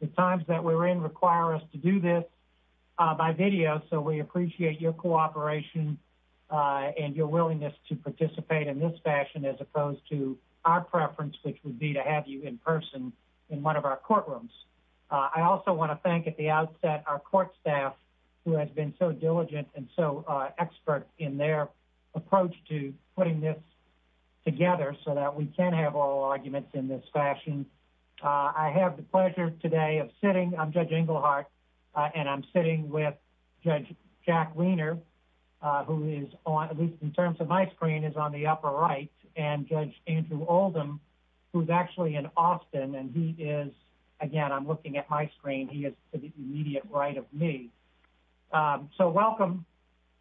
The times that we're in require us to do this by video so we appreciate your cooperation and your willingness to participate in this fashion as opposed to our preference which would be to have you in person in one of our courtrooms. I also want to thank at the outset our court staff who have been so diligent and so expert in their approach to putting this fashion. I have the pleasure today of sitting, I'm Judge Engelhardt and I'm sitting with Judge Jack Wiener who is on at least in terms of my screen is on the upper right and Judge Andrew Oldham who's actually in Austin and he is again I'm looking at my screen he is to the immediate right of me. So welcome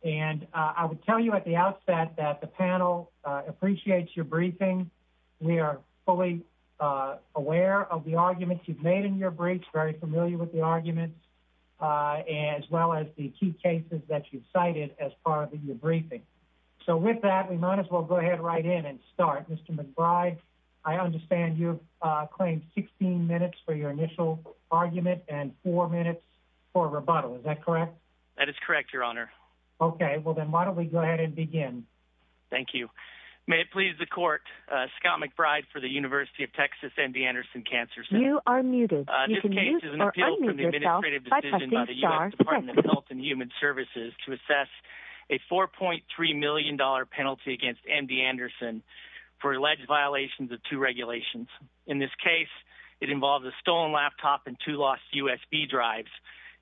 and I would tell you at the outset that the panel appreciates your briefing we are fully aware of the arguments you've made in your briefs very familiar with the arguments as well as the key cases that you've cited as part of your briefing. So with that we might as well go ahead right in and start. Mr. McBride I understand you've claimed 16 minutes for your initial argument and four minutes for rebuttal is that correct? That is correct your honor. Okay Scott McBride for the University of Texas MD Anderson Cancer Center. You are muted. This case is an appeal from the administrative decision by the U.S. Department of Health and Human Services to assess a 4.3 million dollar penalty against MD Anderson for alleged violations of two regulations. In this case it involves a stolen laptop and two lost USB drives.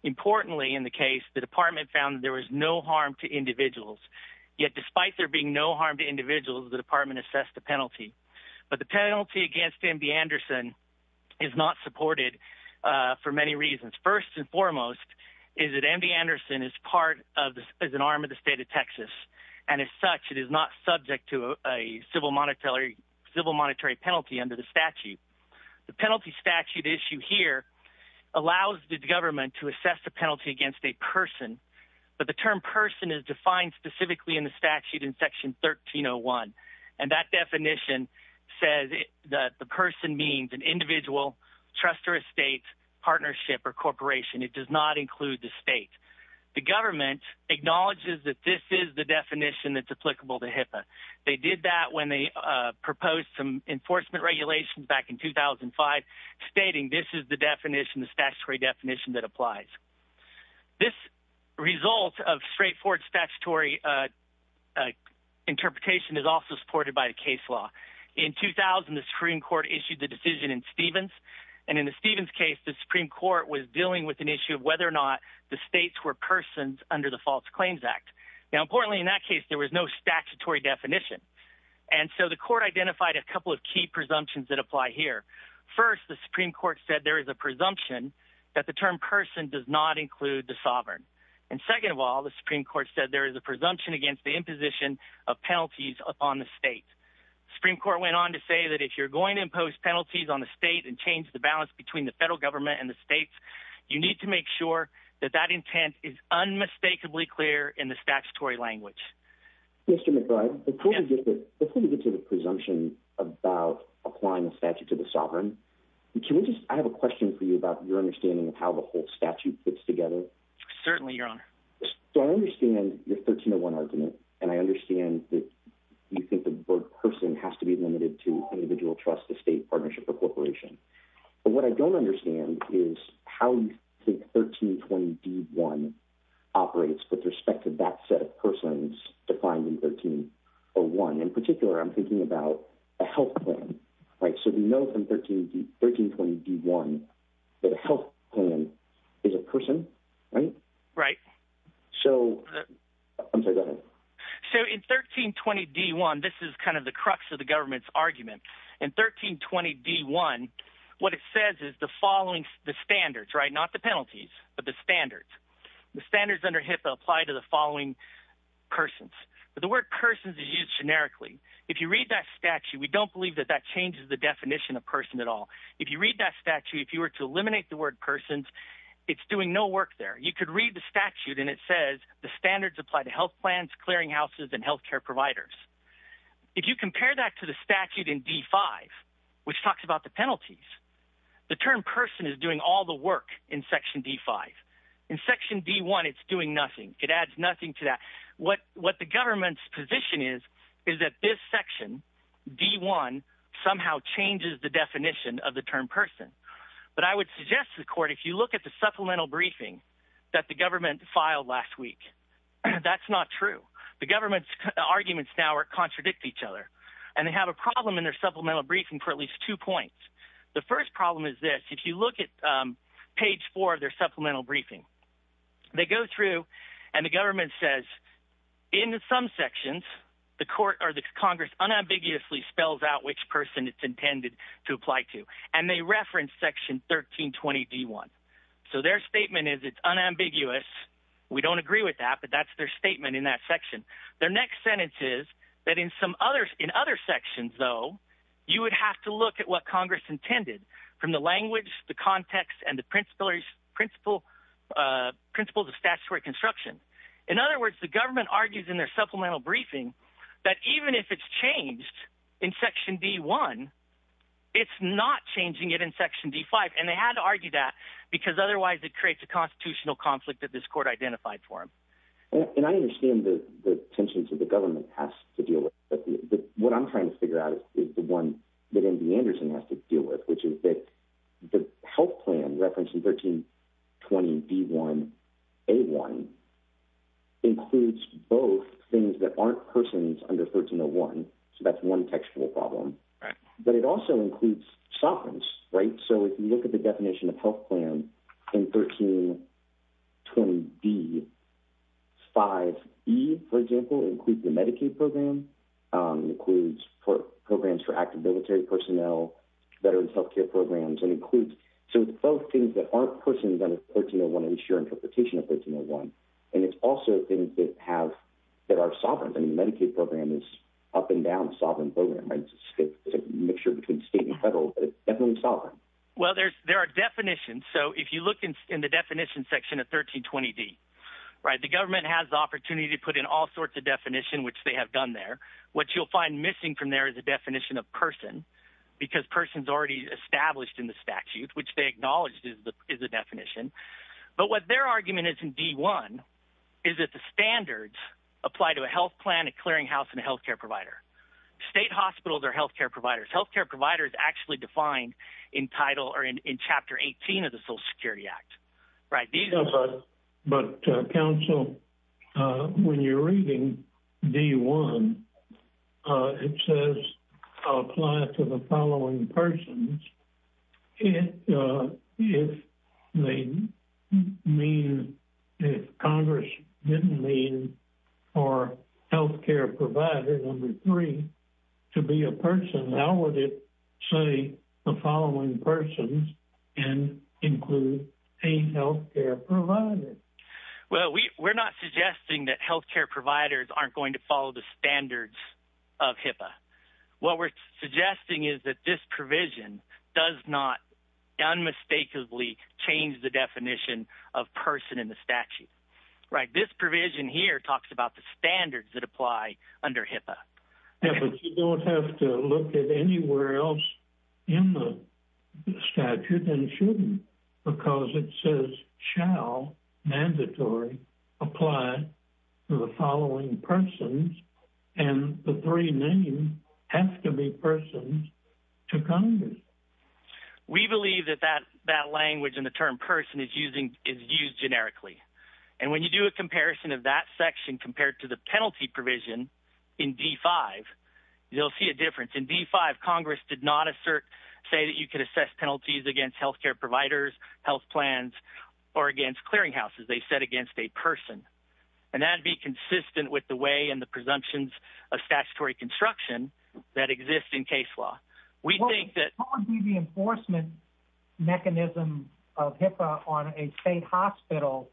Importantly in the case the department found there was no harm to individuals yet despite there being no harm to individuals the department assessed the penalty. But the penalty against MD Anderson is not supported for many reasons. First and foremost is that MD Anderson is part of as an arm of the state of Texas and as such it is not subject to a civil monetary penalty under the statute. The penalty statute issue here allows the government to assess the penalty against a person but the term person is defined specifically in the statute in section 1301 and that definition says that the person means an individual trust or estate partnership or corporation. It does not include the state. The government acknowledges that this is the definition that's applicable to HIPAA. They did that when they proposed some enforcement regulations back in 2005 stating this is the definition, the statutory definition that applies. This result of straightforward statutory interpretation is also supported by the case law. In 2000 the Supreme Court issued the decision in Stevens and in the Stevens case the Supreme Court was dealing with an issue of whether or not the states were persons under the False Claims Act. Now importantly in that case there was no statutory definition and so the court identified a couple of key presumptions that apply here. First the Supreme Court said there is a presumption that the term person does not include the sovereign and second of all the Supreme Court said there is a presumption against the imposition of penalties upon the state. The Supreme Court went on to say that if you're going to impose penalties on the state and change the balance between the federal government and the states you need to make sure that that intent is about applying the statute to the sovereign. Can we just, I have a question for you about your understanding of how the whole statute fits together. Certainly your honor. So I understand your 1301 argument and I understand that you think the word person has to be limited to individual trust the state partnership or corporation but what I don't understand is how you think 1320d.1 operates with respect to that set of persons defined in 1301. In particular I'm thinking about a health plan right so we know from 1320d.1 that a health plan is a person right? Right. So I'm sorry go ahead. So in 1320d.1 this is kind of the crux of the government's argument in 1320d.1 what it says is the following the standards right not the penalties but the standards. The standards under HIPAA apply to the following persons but the word persons is generically. If you read that statute we don't believe that that changes the definition of person at all. If you read that statute if you were to eliminate the word persons it's doing no work there. You could read the statute and it says the standards apply to health plans clearing houses and health care providers. If you compare that to the statute in d.5 which talks about the penalties the term person is doing all the work in section d.5. In section d.1 it's doing nothing it adds nothing to that. What what the government's position is is that this section d.1 somehow changes the definition of the term person but I would suggest to the court if you look at the supplemental briefing that the government filed last week that's not true. The government's arguments now contradict each other and they have a problem in their supplemental briefing for at least two points. The first problem is this if you look at page four of their supplemental briefing they go through and the government says in some sections the court or the congress unambiguously spells out which person it's intended to apply to and they reference section 13 20 d.1. So their statement is it's unambiguous we don't agree with that but that's their statement in that section. Their next sentence is that in some others in other sections though you would have to look at what congress intended from the language the context and the principles principles of statutory construction. In other words the government argues in their supplemental briefing that even if it's changed in section d.1 it's not changing it in section d.5 and they had to argue that because otherwise it creates a constitutional conflict that this court identified for them. And I understand the attention to the government has to deal with but what I'm trying to figure out is the one that md anderson has to deal with which is that the health plan reference in 13 20 d.1 a1 includes both things that aren't persons under 1301 so that's one textual problem but it also includes sovereigns right so if you look at the definition of health plan in 13 20 b 5e for example includes the medicaid program includes programs for active military personnel veterans health care programs and includes so both things that aren't persons under 1301 ensure interpretation of 1301 and it's also things that have that are sovereigns and the medicaid program is up and down sovereign program right it's a mixture between state and federal but it's definitely sovereign well there's there are definitions so if you look in the definition section of 13 20 d right the government has the opportunity to put in all sorts of definition which they have done there what you'll find missing from there is a definition of person because person's already established in the statute which they acknowledged is the definition but what their argument is in d1 is that the standards apply to a health plan a clearing house and a health care provider state hospitals are health care providers health care providers actually defined in title or in chapter 18 of the social security act right but council when you're reading d1 it says apply to the following persons if they mean if congress didn't mean for health care provider number three to be a person how would it say the following persons and include a health care provider well we we're not suggesting that health care providers aren't going to follow the standards of HIPAA what we're suggesting is that this provision does not unmistakably change the definition of person in the statute right this provision here talks about the standards that apply under HIPAA but you don't have to look at anywhere else in the statute and shouldn't because it says shall mandatory apply to the following persons and the three names have to be persons to congress we believe that that that language and the term person is using is used generically and when you do a comparison of that section compared to the penalty provision in d5 you'll see a difference in d5 congress did not assert say that you could assess penalties against health care providers health plans or against clearing houses they said against a person and that'd be consistent with the way and the presumptions of statutory construction that exists in case law we think the enforcement mechanism of HIPAA on a state hospital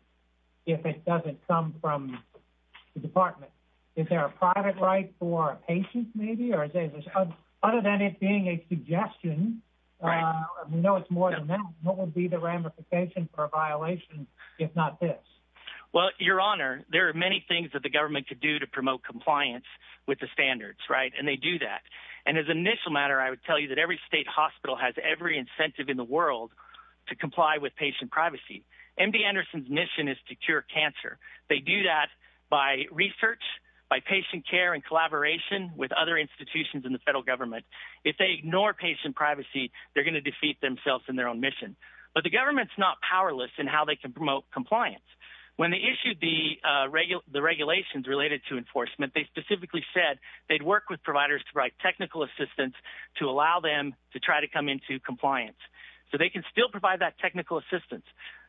if it doesn't come from the department is there a private right for a patient maybe or is there other than it being a suggestion we know it's more than that what would be the ramification for a violation if not this well your honor there are many things that the government could do to promote compliance with the standards right and they do that and as an initial matter i would tell you that every state hospital has every incentive in the world to comply with patient privacy md anderson's mission is to cure cancer they do that by research by patient care and collaboration with other institutions in the federal government if they ignore patient privacy they're going to defeat themselves in their own mission but the government's not powerless in how they can promote compliance when they issued the uh regular the regulations related to enforcement they specifically said they'd work with providers to provide technical assistance to allow them to try to come into compliance so they can still provide that technical assistance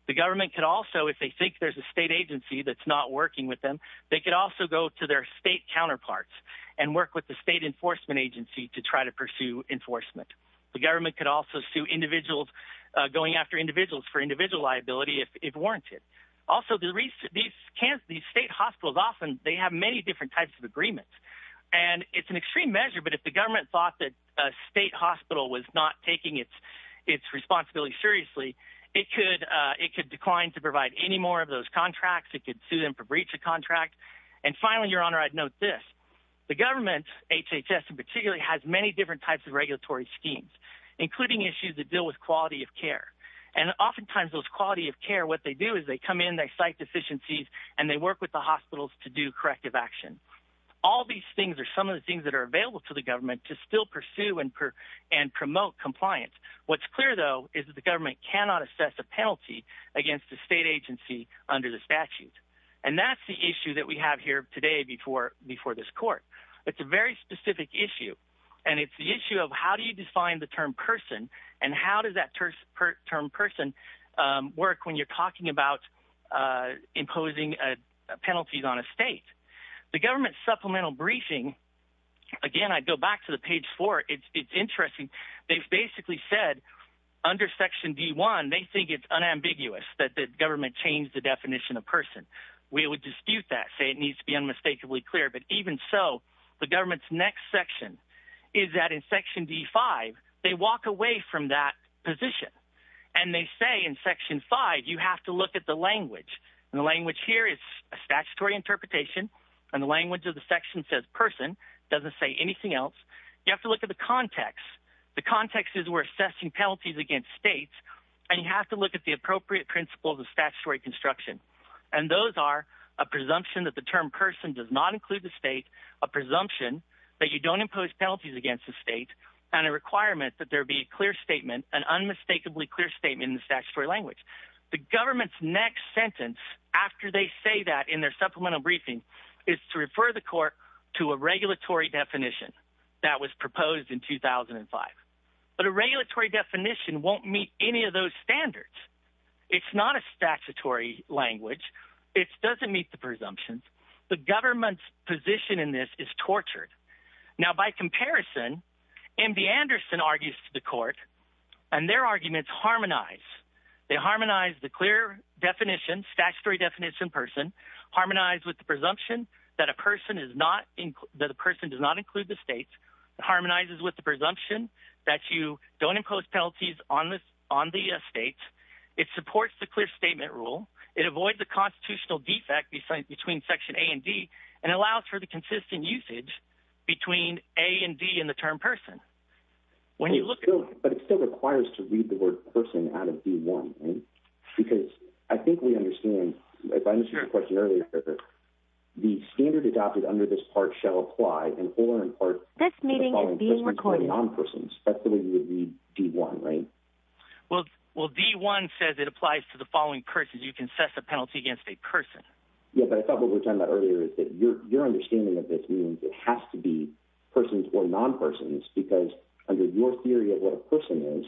the government could also if they think there's a state agency that's not working with them they could also go to their state counterparts and work with the state enforcement agency to try to pursue enforcement the government could also sue individuals going after individuals for individual liability if warranted also the recent these can't these state hospitals often they have many different types of agreements and it's an extreme measure but if the government thought that a state hospital was not taking its its responsibility seriously it could uh it could decline to provide any more of those contracts it could sue them for breach of contract and finally your honor i'd note this the government hhs in particular has many different types of regulatory schemes including issues that deal with quality of care and oftentimes those quality of care what they do is they come in they cite deficiencies and they work with the hospitals to do corrective action all these things are some of the things that are available to the government to still pursue and and promote compliance what's clear though is that the government cannot assess a penalty against the state agency under the statute and that's the issue that we have here today before before this court it's a very specific issue and it's the issue of how do you define the term person and how does that term person work when you're talking about uh imposing a penalties on a state the government supplemental briefing again i go back to the page four it's it's interesting they've basically said under section d1 they think it's unambiguous that the government changed the definition of person we would dispute that say it needs to be unmistakably clear but even so the government's next section is that in section d5 they walk away from that position and they say in section 5 you have to look at the language and the language here is a statutory interpretation and the language of the section says person doesn't say anything else you have to look at the context the context is we're assessing penalties against states and you have to look at the appropriate principles of statutory construction and those are a presumption that term person does not include the state a presumption that you don't impose penalties against the state and a requirement that there be a clear statement an unmistakably clear statement in the statutory language the government's next sentence after they say that in their supplemental briefing is to refer the court to a regulatory definition that was proposed in 2005 but a regulatory definition won't meet any of those standards it's not a statutory language it doesn't meet the presumptions the government's position in this is tortured now by comparison mb anderson argues to the court and their arguments harmonize they harmonize the clear definition statutory definition person harmonized with the presumption that a person is not in that the person does not include the states harmonizes with the presumption that you don't impose penalties on this on the states it supports the clear statement rule it avoids the constitutional defect beside between section a and d and allows for the consistent usage between a and d and the term person when you look at but it still requires to read the word person out of b1 because i think we understand if i understood the question earlier the standard adopted under this part shall apply and or in part this meeting is being recorded on persons that's the way you would read d1 right well well d1 says it applies to the following curses you can set the penalty against a person yeah but i thought what we're talking about earlier is that your your understanding of this means it has to be persons or non-persons because under your theory of what a person is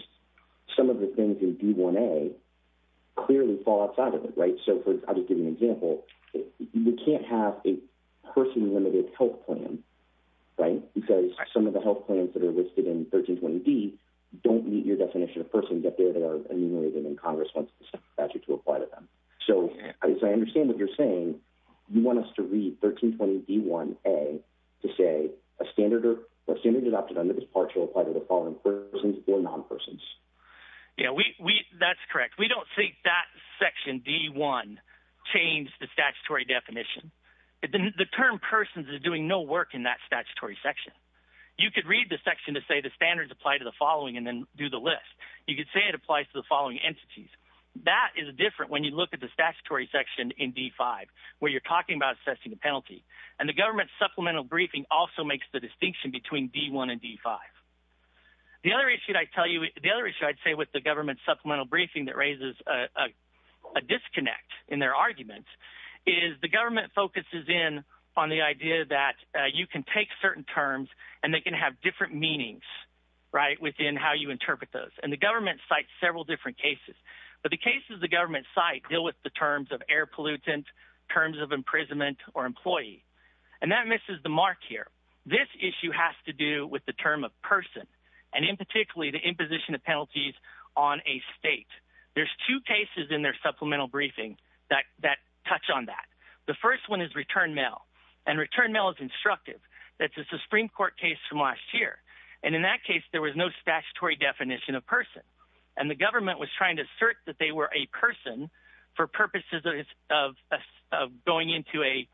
some of the things in d1a clearly fall outside of it right so for i'll just give an example you can't have a person limited health plan right because some of the health plans that are listed in 1320 d don't meet your definition of person get there they are enumerated and congress wants the statute to apply to them so as i understand what you're saying you want us to read 1320 d1a to say a standard or standard adopted under this part shall apply to the following persons or non-persons yeah we we that's correct we don't think that section d1 changed the statutory definition the term persons is doing no work in that statutory section you could read the section to say the standards apply to the following and then do the list you could say it applies to the following entities that is different when you look at the statutory section in d5 where you're talking about assessing the penalty and the government supplemental briefing also makes the distinction between d1 and d5 the other issue i tell you the other issue i'd say with the government supplemental briefing that raises a a disconnect in their arguments is the government focuses in on the idea that you can take certain terms and they can have different meanings right within how you interpret those and the government cites several different cases but the cases the government site deal with the terms of air pollutant terms of imprisonment or employee and that misses the mark here this issue has to do with the term of person and in particularly the imposition of penalties on a state there's two cases in their supplemental briefing that touch on that the first one is return mail and return mail is instructive that's a supreme court case from last year and in that case there was no statutory definition of person and the government was trying to assert that they were a person for purposes of going into a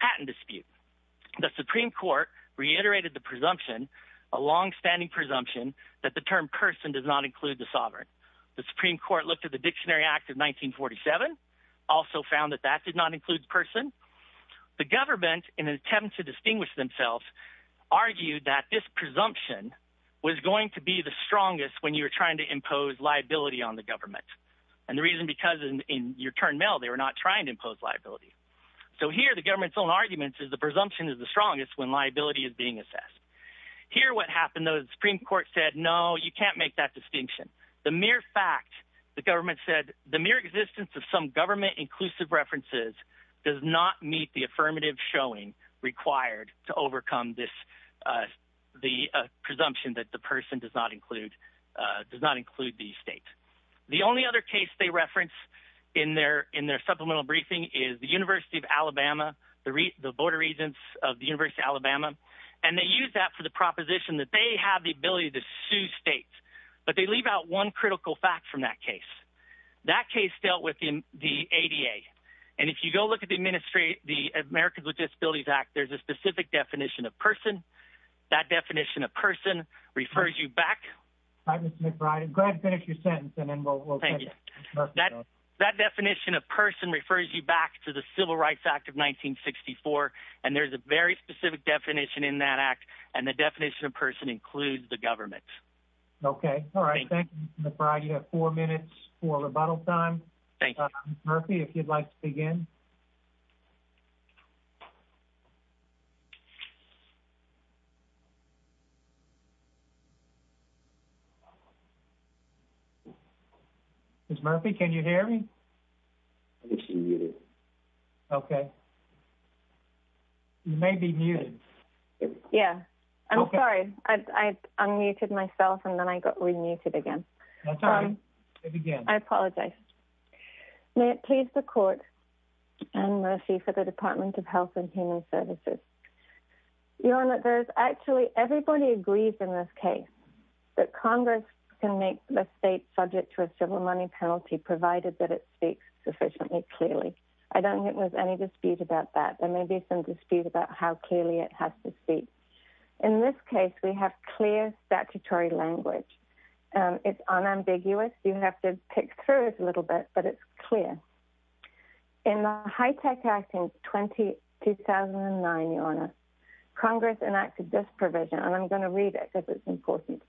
patent dispute the supreme court reiterated the presumption a long-standing presumption that the term person does not include the sovereign the supreme court looked at the found that that did not include the person the government in an attempt to distinguish themselves argued that this presumption was going to be the strongest when you were trying to impose liability on the government and the reason because in your turn mail they were not trying to impose liability so here the government's own arguments is the presumption is the strongest when liability is being assessed here what happened though the supreme court said no you can't make that references does not meet the affirmative showing required to overcome this uh the presumption that the person does not include uh does not include these states the only other case they reference in their in their supplemental briefing is the university of alabama the re the board of regents of the university of alabama and they use that for the proposition that they have the ability to sue states but they leave out one critical fact from that case that case dealt with in the ada and if you go look at the administrate the americans with disabilities act there's a specific definition of person that definition of person refers you back right mr mcbride and go ahead and finish your sentence and then we'll thank you that that definition of person refers you back to the civil rights act of 1964 and there's a very specific definition in that act and the definition of person includes the government okay all right thank you mcbride you have four minutes for rebuttal time thank you murphy if you'd like to begin miss murphy can you hear me okay you may be muted yeah i'm sorry i i unmuted myself and then i got remuted again i apologize may it please the court and mercy for the department of health and human services your honor there's actually everybody agrees in this case that congress can make the state subject to a civil money penalty provided that it speaks sufficiently clearly i don't think there's any dispute about that there may be some dispute about how clearly it has to speak in this case we have clear statutory language um it's unambiguous you have to pick through it a little bit but it's clear in the high-tech act in 20 2009 your honor congress enacted this provision and i'm going to read it because it's important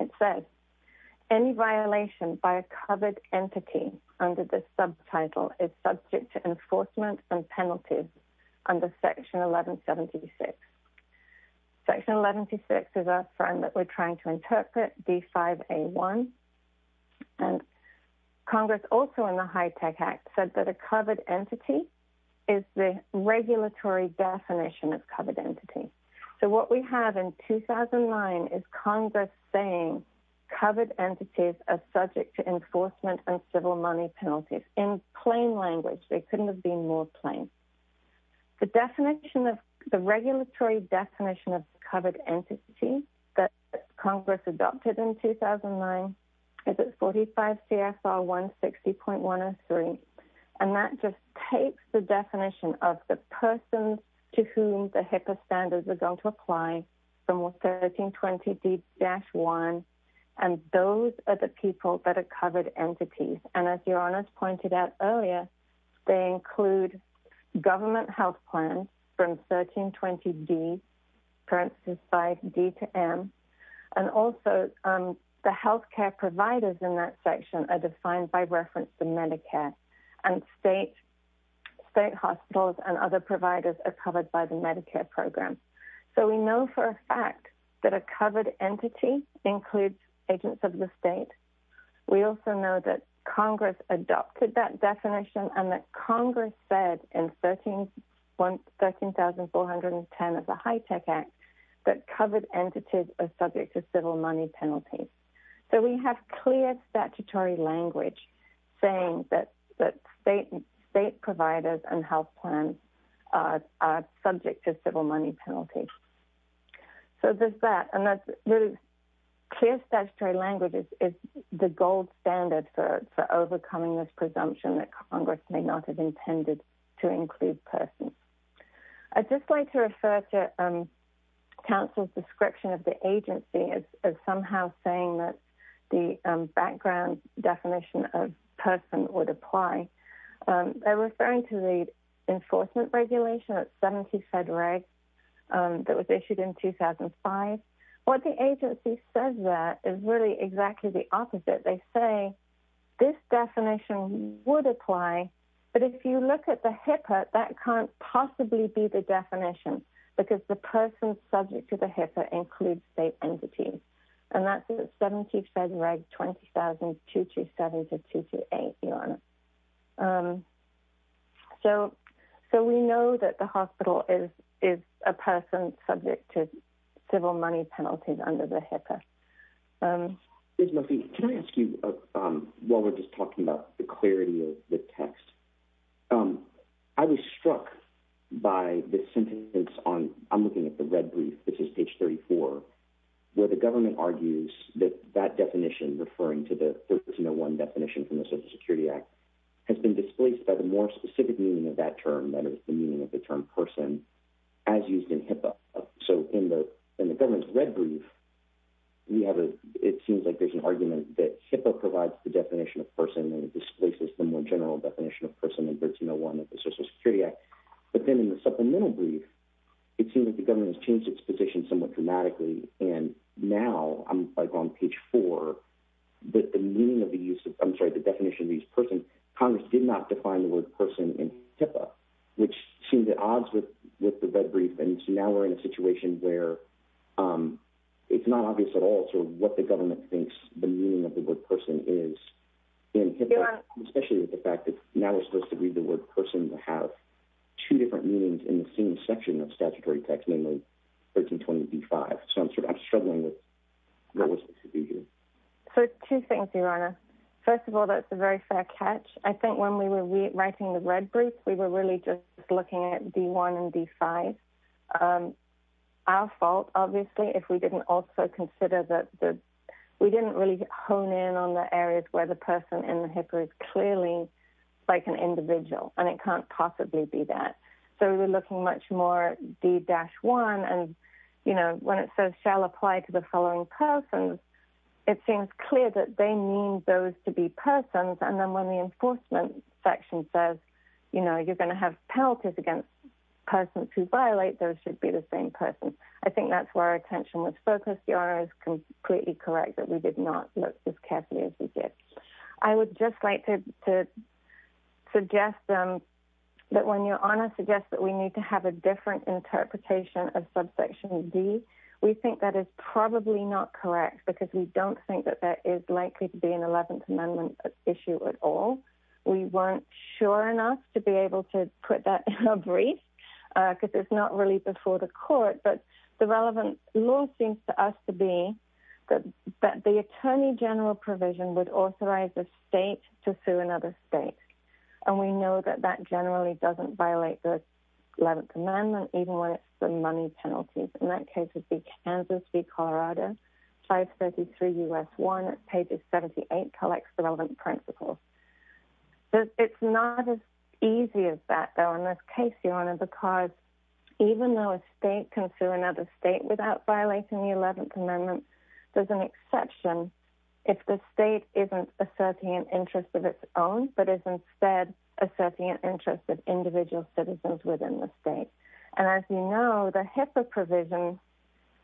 it says any violation by a covered entity under this we're trying to interpret d5a1 and congress also in the high-tech act said that a covered entity is the regulatory definition of covered entity so what we have in 2009 is congress saying covered entities are subject to enforcement and civil money penalties in plain language they that congress adopted in 2009 is it's 45 cfr 160.103 and that just takes the definition of the person to whom the HIPAA standards are going to apply from 1320d-1 and those are the people that are covered entities and as your honors pointed out earlier they include government health plans from 1320d parenthesis 5d to m and also the health care providers in that section are defined by reference to medicare and state state hospitals and other providers are covered by the medicare program so we know for a fact that a covered entity includes agents of the state we also know that congress adopted that definition and that congress said in 13 one 13 410 of the high-tech act that covered entities are subject to civil money penalties so we have clear statutory language saying that that state state providers and health plans are subject to civil money penalty so there's that and that's really clear statutory language is is the gold standard for for overcoming this presumption that congress may not have intended to include persons i just like to refer to council's description of the agency as somehow saying that the background definition of person would apply they're referring to the enforcement regulation at 70 fed reg that was issued in 2005 what the agency says that is really exactly the opposite they say this definition would apply but if you look at the HIPAA that can't possibly be the definition because the person subject to the HIPAA includes state so we know that the hospital is is a person subject to civil money penalties under the HIPAA there's nothing can i ask you um while we're just talking about the clarity of the text um i was struck by this sentence on i'm looking at the red brief this is page 34 where the government argues that that definition referring to the 1301 definition from the social security act has been displaced by the more specific meaning of that term that is the meaning of the term person as used in HIPAA so in the in the government's red brief we have a it seems like there's an argument that HIPAA provides the definition of person and it displaces the more general definition of person in 1301 of the social security act but then in the supplemental brief it seems that the government has changed its position somewhat dramatically and now i'm like on page four but the meaning of the use of i'm sorry the definition of each person congress did not define the word person in HIPAA which seemed at odds with with the red brief and so now we're in a situation where um it's not obvious at all sort of what the government thinks the meaning of the word person is in HIPAA especially with the fact that now we're supposed to read the word person to have two different meanings in the same section of statutory text namely 1325 so i'm sort of confused so two things your honor first of all that's a very fair catch i think when we were writing the red brief we were really just looking at d1 and d5 um our fault obviously if we didn't also consider that the we didn't really hone in on the areas where the person in the HIPAA is clearly like an individual and it can't possibly be that so we're looking much more d-1 and you know when it says shall apply to the following persons it seems clear that they mean those to be persons and then when the enforcement section says you know you're going to have penalties against persons who violate those should be the same person i think that's where our attention was focused the honor is completely correct that we did not look as carefully as we did i would just like to to suggest them that when your honor suggests that we need to have a different interpretation of subsection d we think that is probably not correct because we don't think that there is likely to be an 11th amendment issue at all we weren't sure enough to be able to put that in a brief uh because it's not really before the court but the relevant law seems to us to be that that the attorney general provision would authorize the state to sue another state and we know that that generally doesn't violate the 11th amendment even when it's the money penalties in that case would be kansas v colorado 533 u.s one pages 78 collects the relevant principles so it's not as easy as that though in this case your honor because even though a state can sue another state without violating the 11th amendment there's an exception if the state isn't asserting an interest of its own but is instead asserting an interest of individual citizens within the state and as you know the HIPAA provision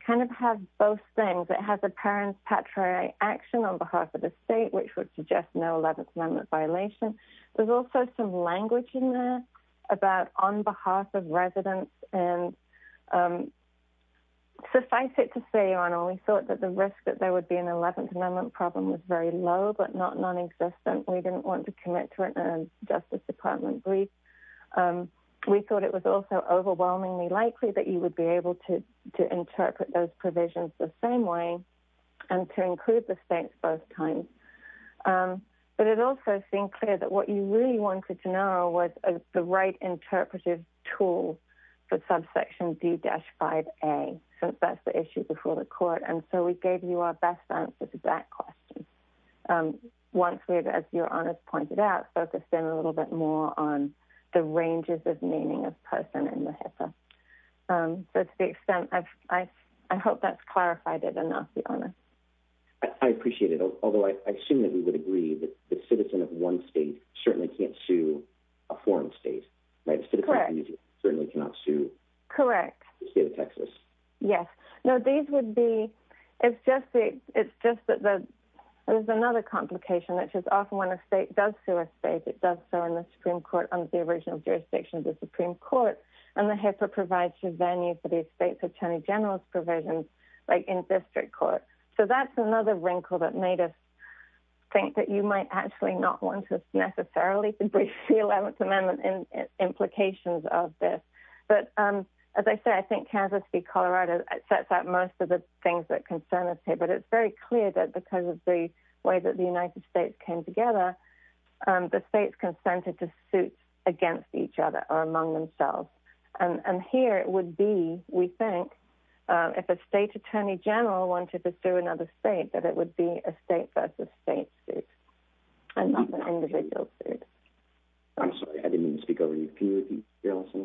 kind of has both things it has apparent patriarch action on behalf of the state which would suggest no 11th amendment violation there's also some language in there about on behalf of residents and um suffice it to say your honor we thought that the risk that there would be an 11th amendment problem was very low but not non-existent we didn't want to commit to it and justice department brief um we thought it was also overwhelmingly likely that you would be able to to interpret those provisions the same way and to include the states both times um but it also seemed clear that what you really wanted to know was the right interpretive tool for subsection d-5a since that's the issue before the court and so we gave you our best answers to that question um once we had as your honor pointed out focused in a little bit more on the ranges of meaning of person in the HIPAA um so to the extent i've i i hope that's clarified it enough the honor i i appreciate it although i assume that we would agree that the citizen of one state certainly can't sue a foreign state correct certainly cannot sue correct the state of texas yes no these would be it's just the it's just that the there's another complication which is often when a state does sue a state it does so in the supreme court under the original jurisdiction of the supreme court and the HIPAA provides revenue for these states attorney general's provisions like in district court so that's another wrinkle that made us think that you might actually not want to necessarily breach the 11th amendment in implications of this but um as i said i think kansas v colorado sets out most of the things that concern us here but it's very clear that because of the way that the united states came together um the states consented to suit against each other or among themselves and and here it would be we think if a state attorney general wanted to sue another state that it would be a state versus state suit and not an individual suit i'm sorry i didn't speak over you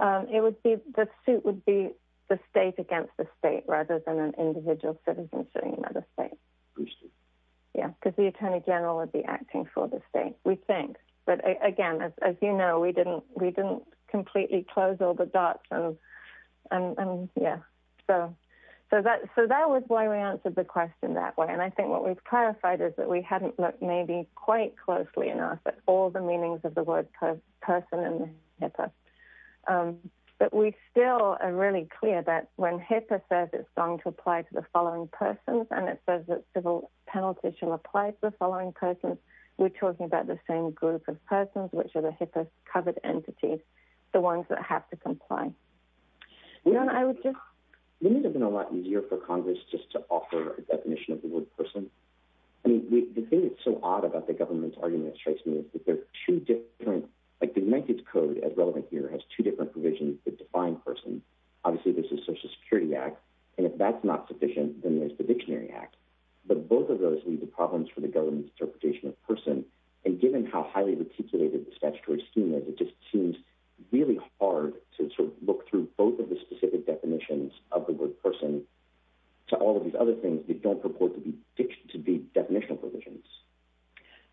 um it would be the suit would be the state against the state rather than an individual citizen sitting by the state yeah because the attorney general would be acting for the state we think but again as you know we didn't we didn't completely close all the dots and and yeah so so that so that was why we answered the question that way and i think what we've clarified is that we hadn't looked maybe quite closely enough at all the meanings of the word person and HIPAA um but we still are really clear that when HIPAA says it's going to apply to the following persons and it says that civil penalty shall apply to the following persons we're talking about the same group of persons which are the HIPAA covered entities the ones that have to comply you know i would just it would have been a lot easier for congress just to offer a definition of the word person i mean the thing that's so odd about the government's argument strikes me is that they're two different like the united's code as relevant here has two different provisions that define person obviously this is social security act and if that's not sufficient then there's the dictionary act but both of those leave the problems for the government's interpretation of person and given how highly reticulated the statutory scheme is it just seems really hard to sort of look through both of the specific definitions of the word person to all of these other things that don't purport to be to be definitional provisions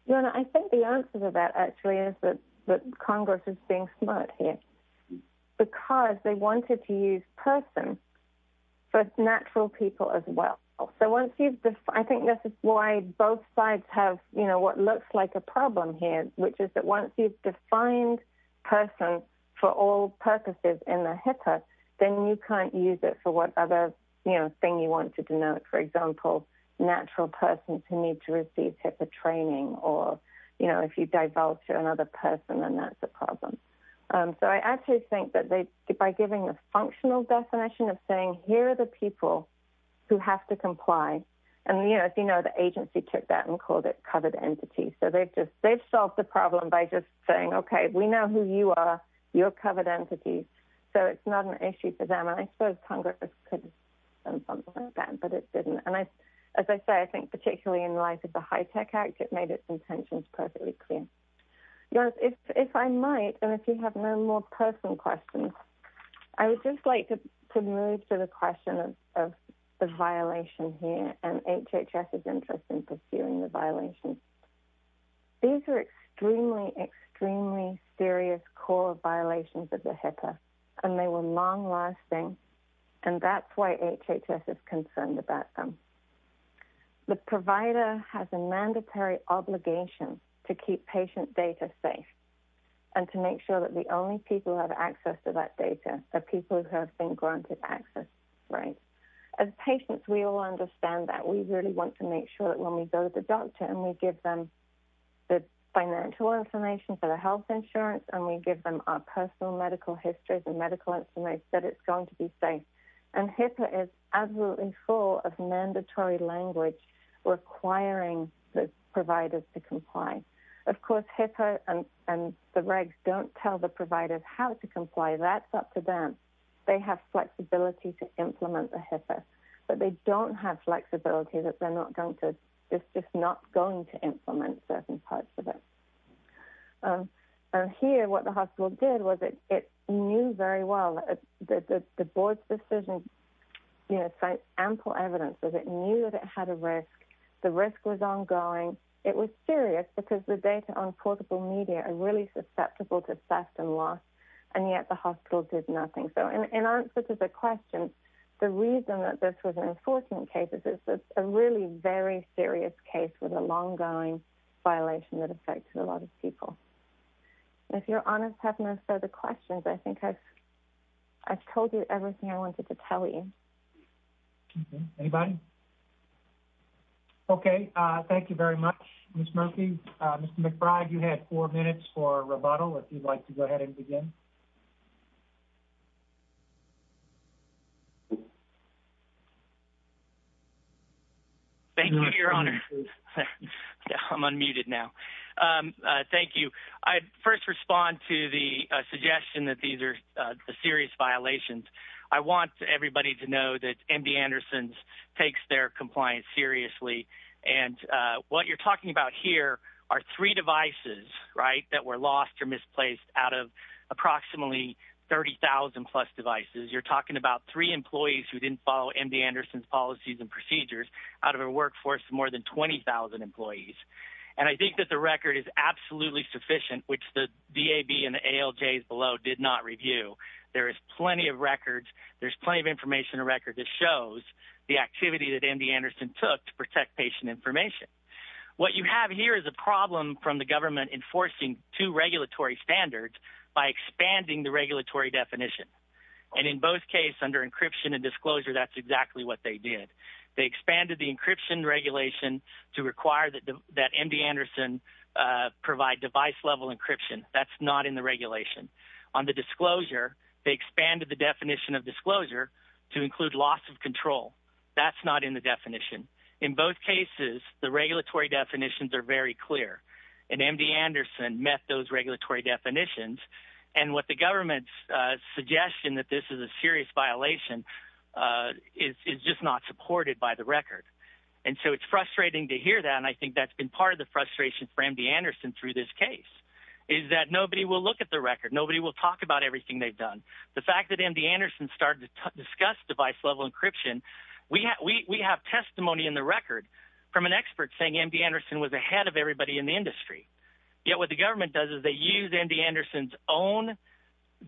no i think the answer to that actually is that that congress is being smart here because they wanted to use person for natural people as well so once you've defined i think this is why both sides have you know what the HIPAA then you can't use it for what other you know thing you want to denote for example natural persons who need to receive HIPAA training or you know if you divulge to another person then that's a problem so i actually think that they by giving a functional definition of saying here are the people who have to comply and you know if you know the agency took that and called it covered entity so they've just they've solved the problem by just saying okay we know who you are you're entities so it's not an issue for them and i suppose congress could have done something like that but it didn't and i as i say i think particularly in light of the high-tech act it made its intentions perfectly clear yes if if i might and if you have no more personal questions i would just like to to move to the question of of the violation here and hhs is interested violations these are extremely extremely serious core violations of the HIPAA and they were long lasting and that's why hhs is concerned about them the provider has a mandatory obligation to keep patient data safe and to make sure that the only people who have access to that data are people who have been granted access right as patients we all understand that we really want to make sure that when we go to the doctor and we give them the financial information for the health insurance and we give them our personal medical histories and medical information that it's going to be safe and HIPAA is absolutely full of mandatory language requiring the providers to comply of course HIPAA and and the regs don't tell the providers how to comply that's up to them they have flexibility to implement the HIPAA but they don't have flexibility that they're not it's just not going to implement certain parts of it and here what the hospital did was it it knew very well that the the board's decision you know cite ample evidence that it knew that it had a risk the risk was ongoing it was serious because the data on portable media are really susceptible to theft and loss and yet the hospital did nothing so in answer to the question the reason that this is an enforcement case is this is a really very serious case with a long-going violation that affected a lot of people if you're honest have no further questions i think i've i've told you everything i wanted to tell you anybody okay uh thank you very much miss murphy uh mr mcbride you had four minutes for rebuttal if you'd like to go ahead and begin thank you your honor i'm unmuted now um uh thank you i first respond to the suggestion that these are the serious violations i want everybody to know that md anderson's takes their compliance seriously and uh what you're talking about here are three devices right that were lost or misplaced out of approximately 30,000 plus devices you're talking about three employees who didn't follow md anderson's policies and procedures out of a workforce more than 20,000 employees and i think that the record is absolutely sufficient which the dab and the alj's below did not review there is plenty of records there's plenty of information a record that shows the to protect patient information what you have here is a problem from the government enforcing two regulatory standards by expanding the regulatory definition and in both case under encryption and disclosure that's exactly what they did they expanded the encryption regulation to require that that md anderson uh provide device level encryption that's not in the regulation on the disclosure they expanded the definition of disclosure to include loss of control that's in both cases the regulatory definitions are very clear and md anderson met those regulatory definitions and what the government's uh suggestion that this is a serious violation uh is is just not supported by the record and so it's frustrating to hear that and i think that's been part of the frustration for md anderson through this case is that nobody will look at the record nobody will talk about everything they've done the fact that md anderson started discuss device level encryption we have testimony in the record from an expert saying md anderson was ahead of everybody in the industry yet what the government does is they use md anderson's own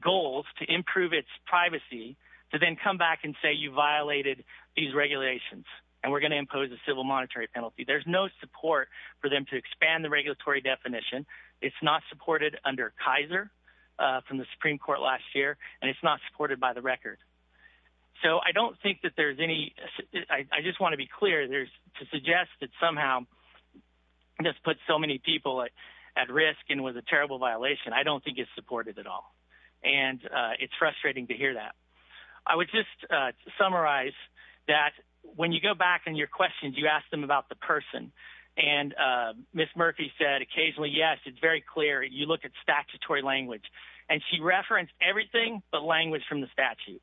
goals to improve its privacy to then come back and say you violated these regulations and we're going to impose a civil monetary penalty there's no support for them to expand the regulatory definition it's not supported under kaiser uh from the supreme court last year and it's not supported by the record so i don't think that there's any i just want to be clear there's to suggest that somehow this puts so many people at risk and with a terrible violation i don't think it's supported at all and uh it's frustrating to hear that i would just summarize that when you go back and your questions you ask them about the person and uh miss murphy said occasionally yes it's very clear you look at statutory language and she referenced everything but language from the statute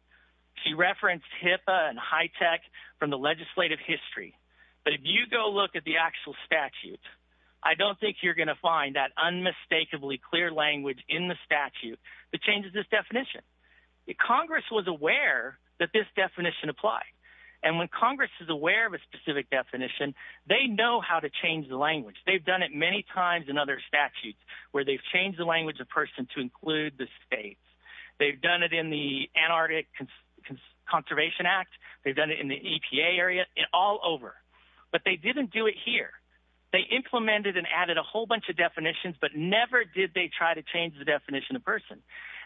she referenced hippa and high tech from the legislative history but if you go look at the actual statute i don't think you're going to find that unmistakably clear language in the statute that changes this definition the congress was aware that this definition applied and when congress is aware of a specific definition they know how to change the language they've done it many times in other statutes where they've changed the language of person to include the states they've done it in the antarctic conservation act they've done it in the epa area and all over but they didn't do it here they implemented and added a whole bunch of definitions but never did they try to change the definition of person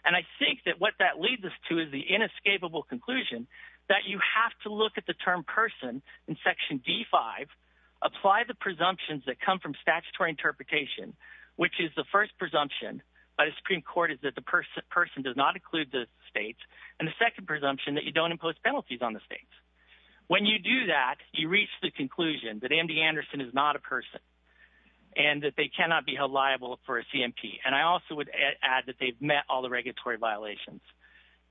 and i think that what that leads us to is the inescapable conclusion that you have to look at the term person in section d5 apply the presumptions that come from statutory interpretation which is the first presumption by the supreme court is that the person person does not include the states and the second presumption that you don't impose penalties on the states when you do that you reach the conclusion that md anderson is not a person and that they cannot be held liable for a cmp and i also would add that they've met all the regulatory violations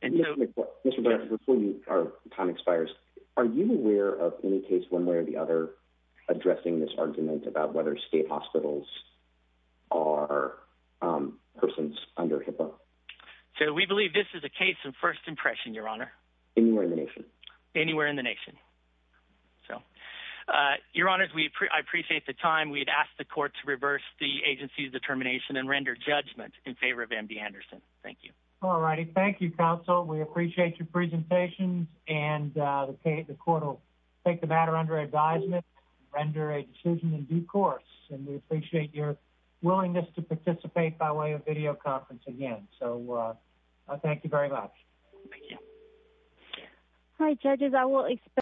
and so before our time expires are you aware of any case one way or the other addressing this argument about whether state hospitals are persons under hippo so we believe this is a case of first impression your honor anywhere in the nation anywhere in the nation so uh your honors we appreciate the time we'd ask the court to reverse the agency's determination and render judgment in favor of md anderson thank you all righty thank you counsel we appreciate your presentations and uh the court will take the matter under advisement render a decision in due course and we appreciate your willingness to participate by way of video conference again so thank you very much thank you hi judges i will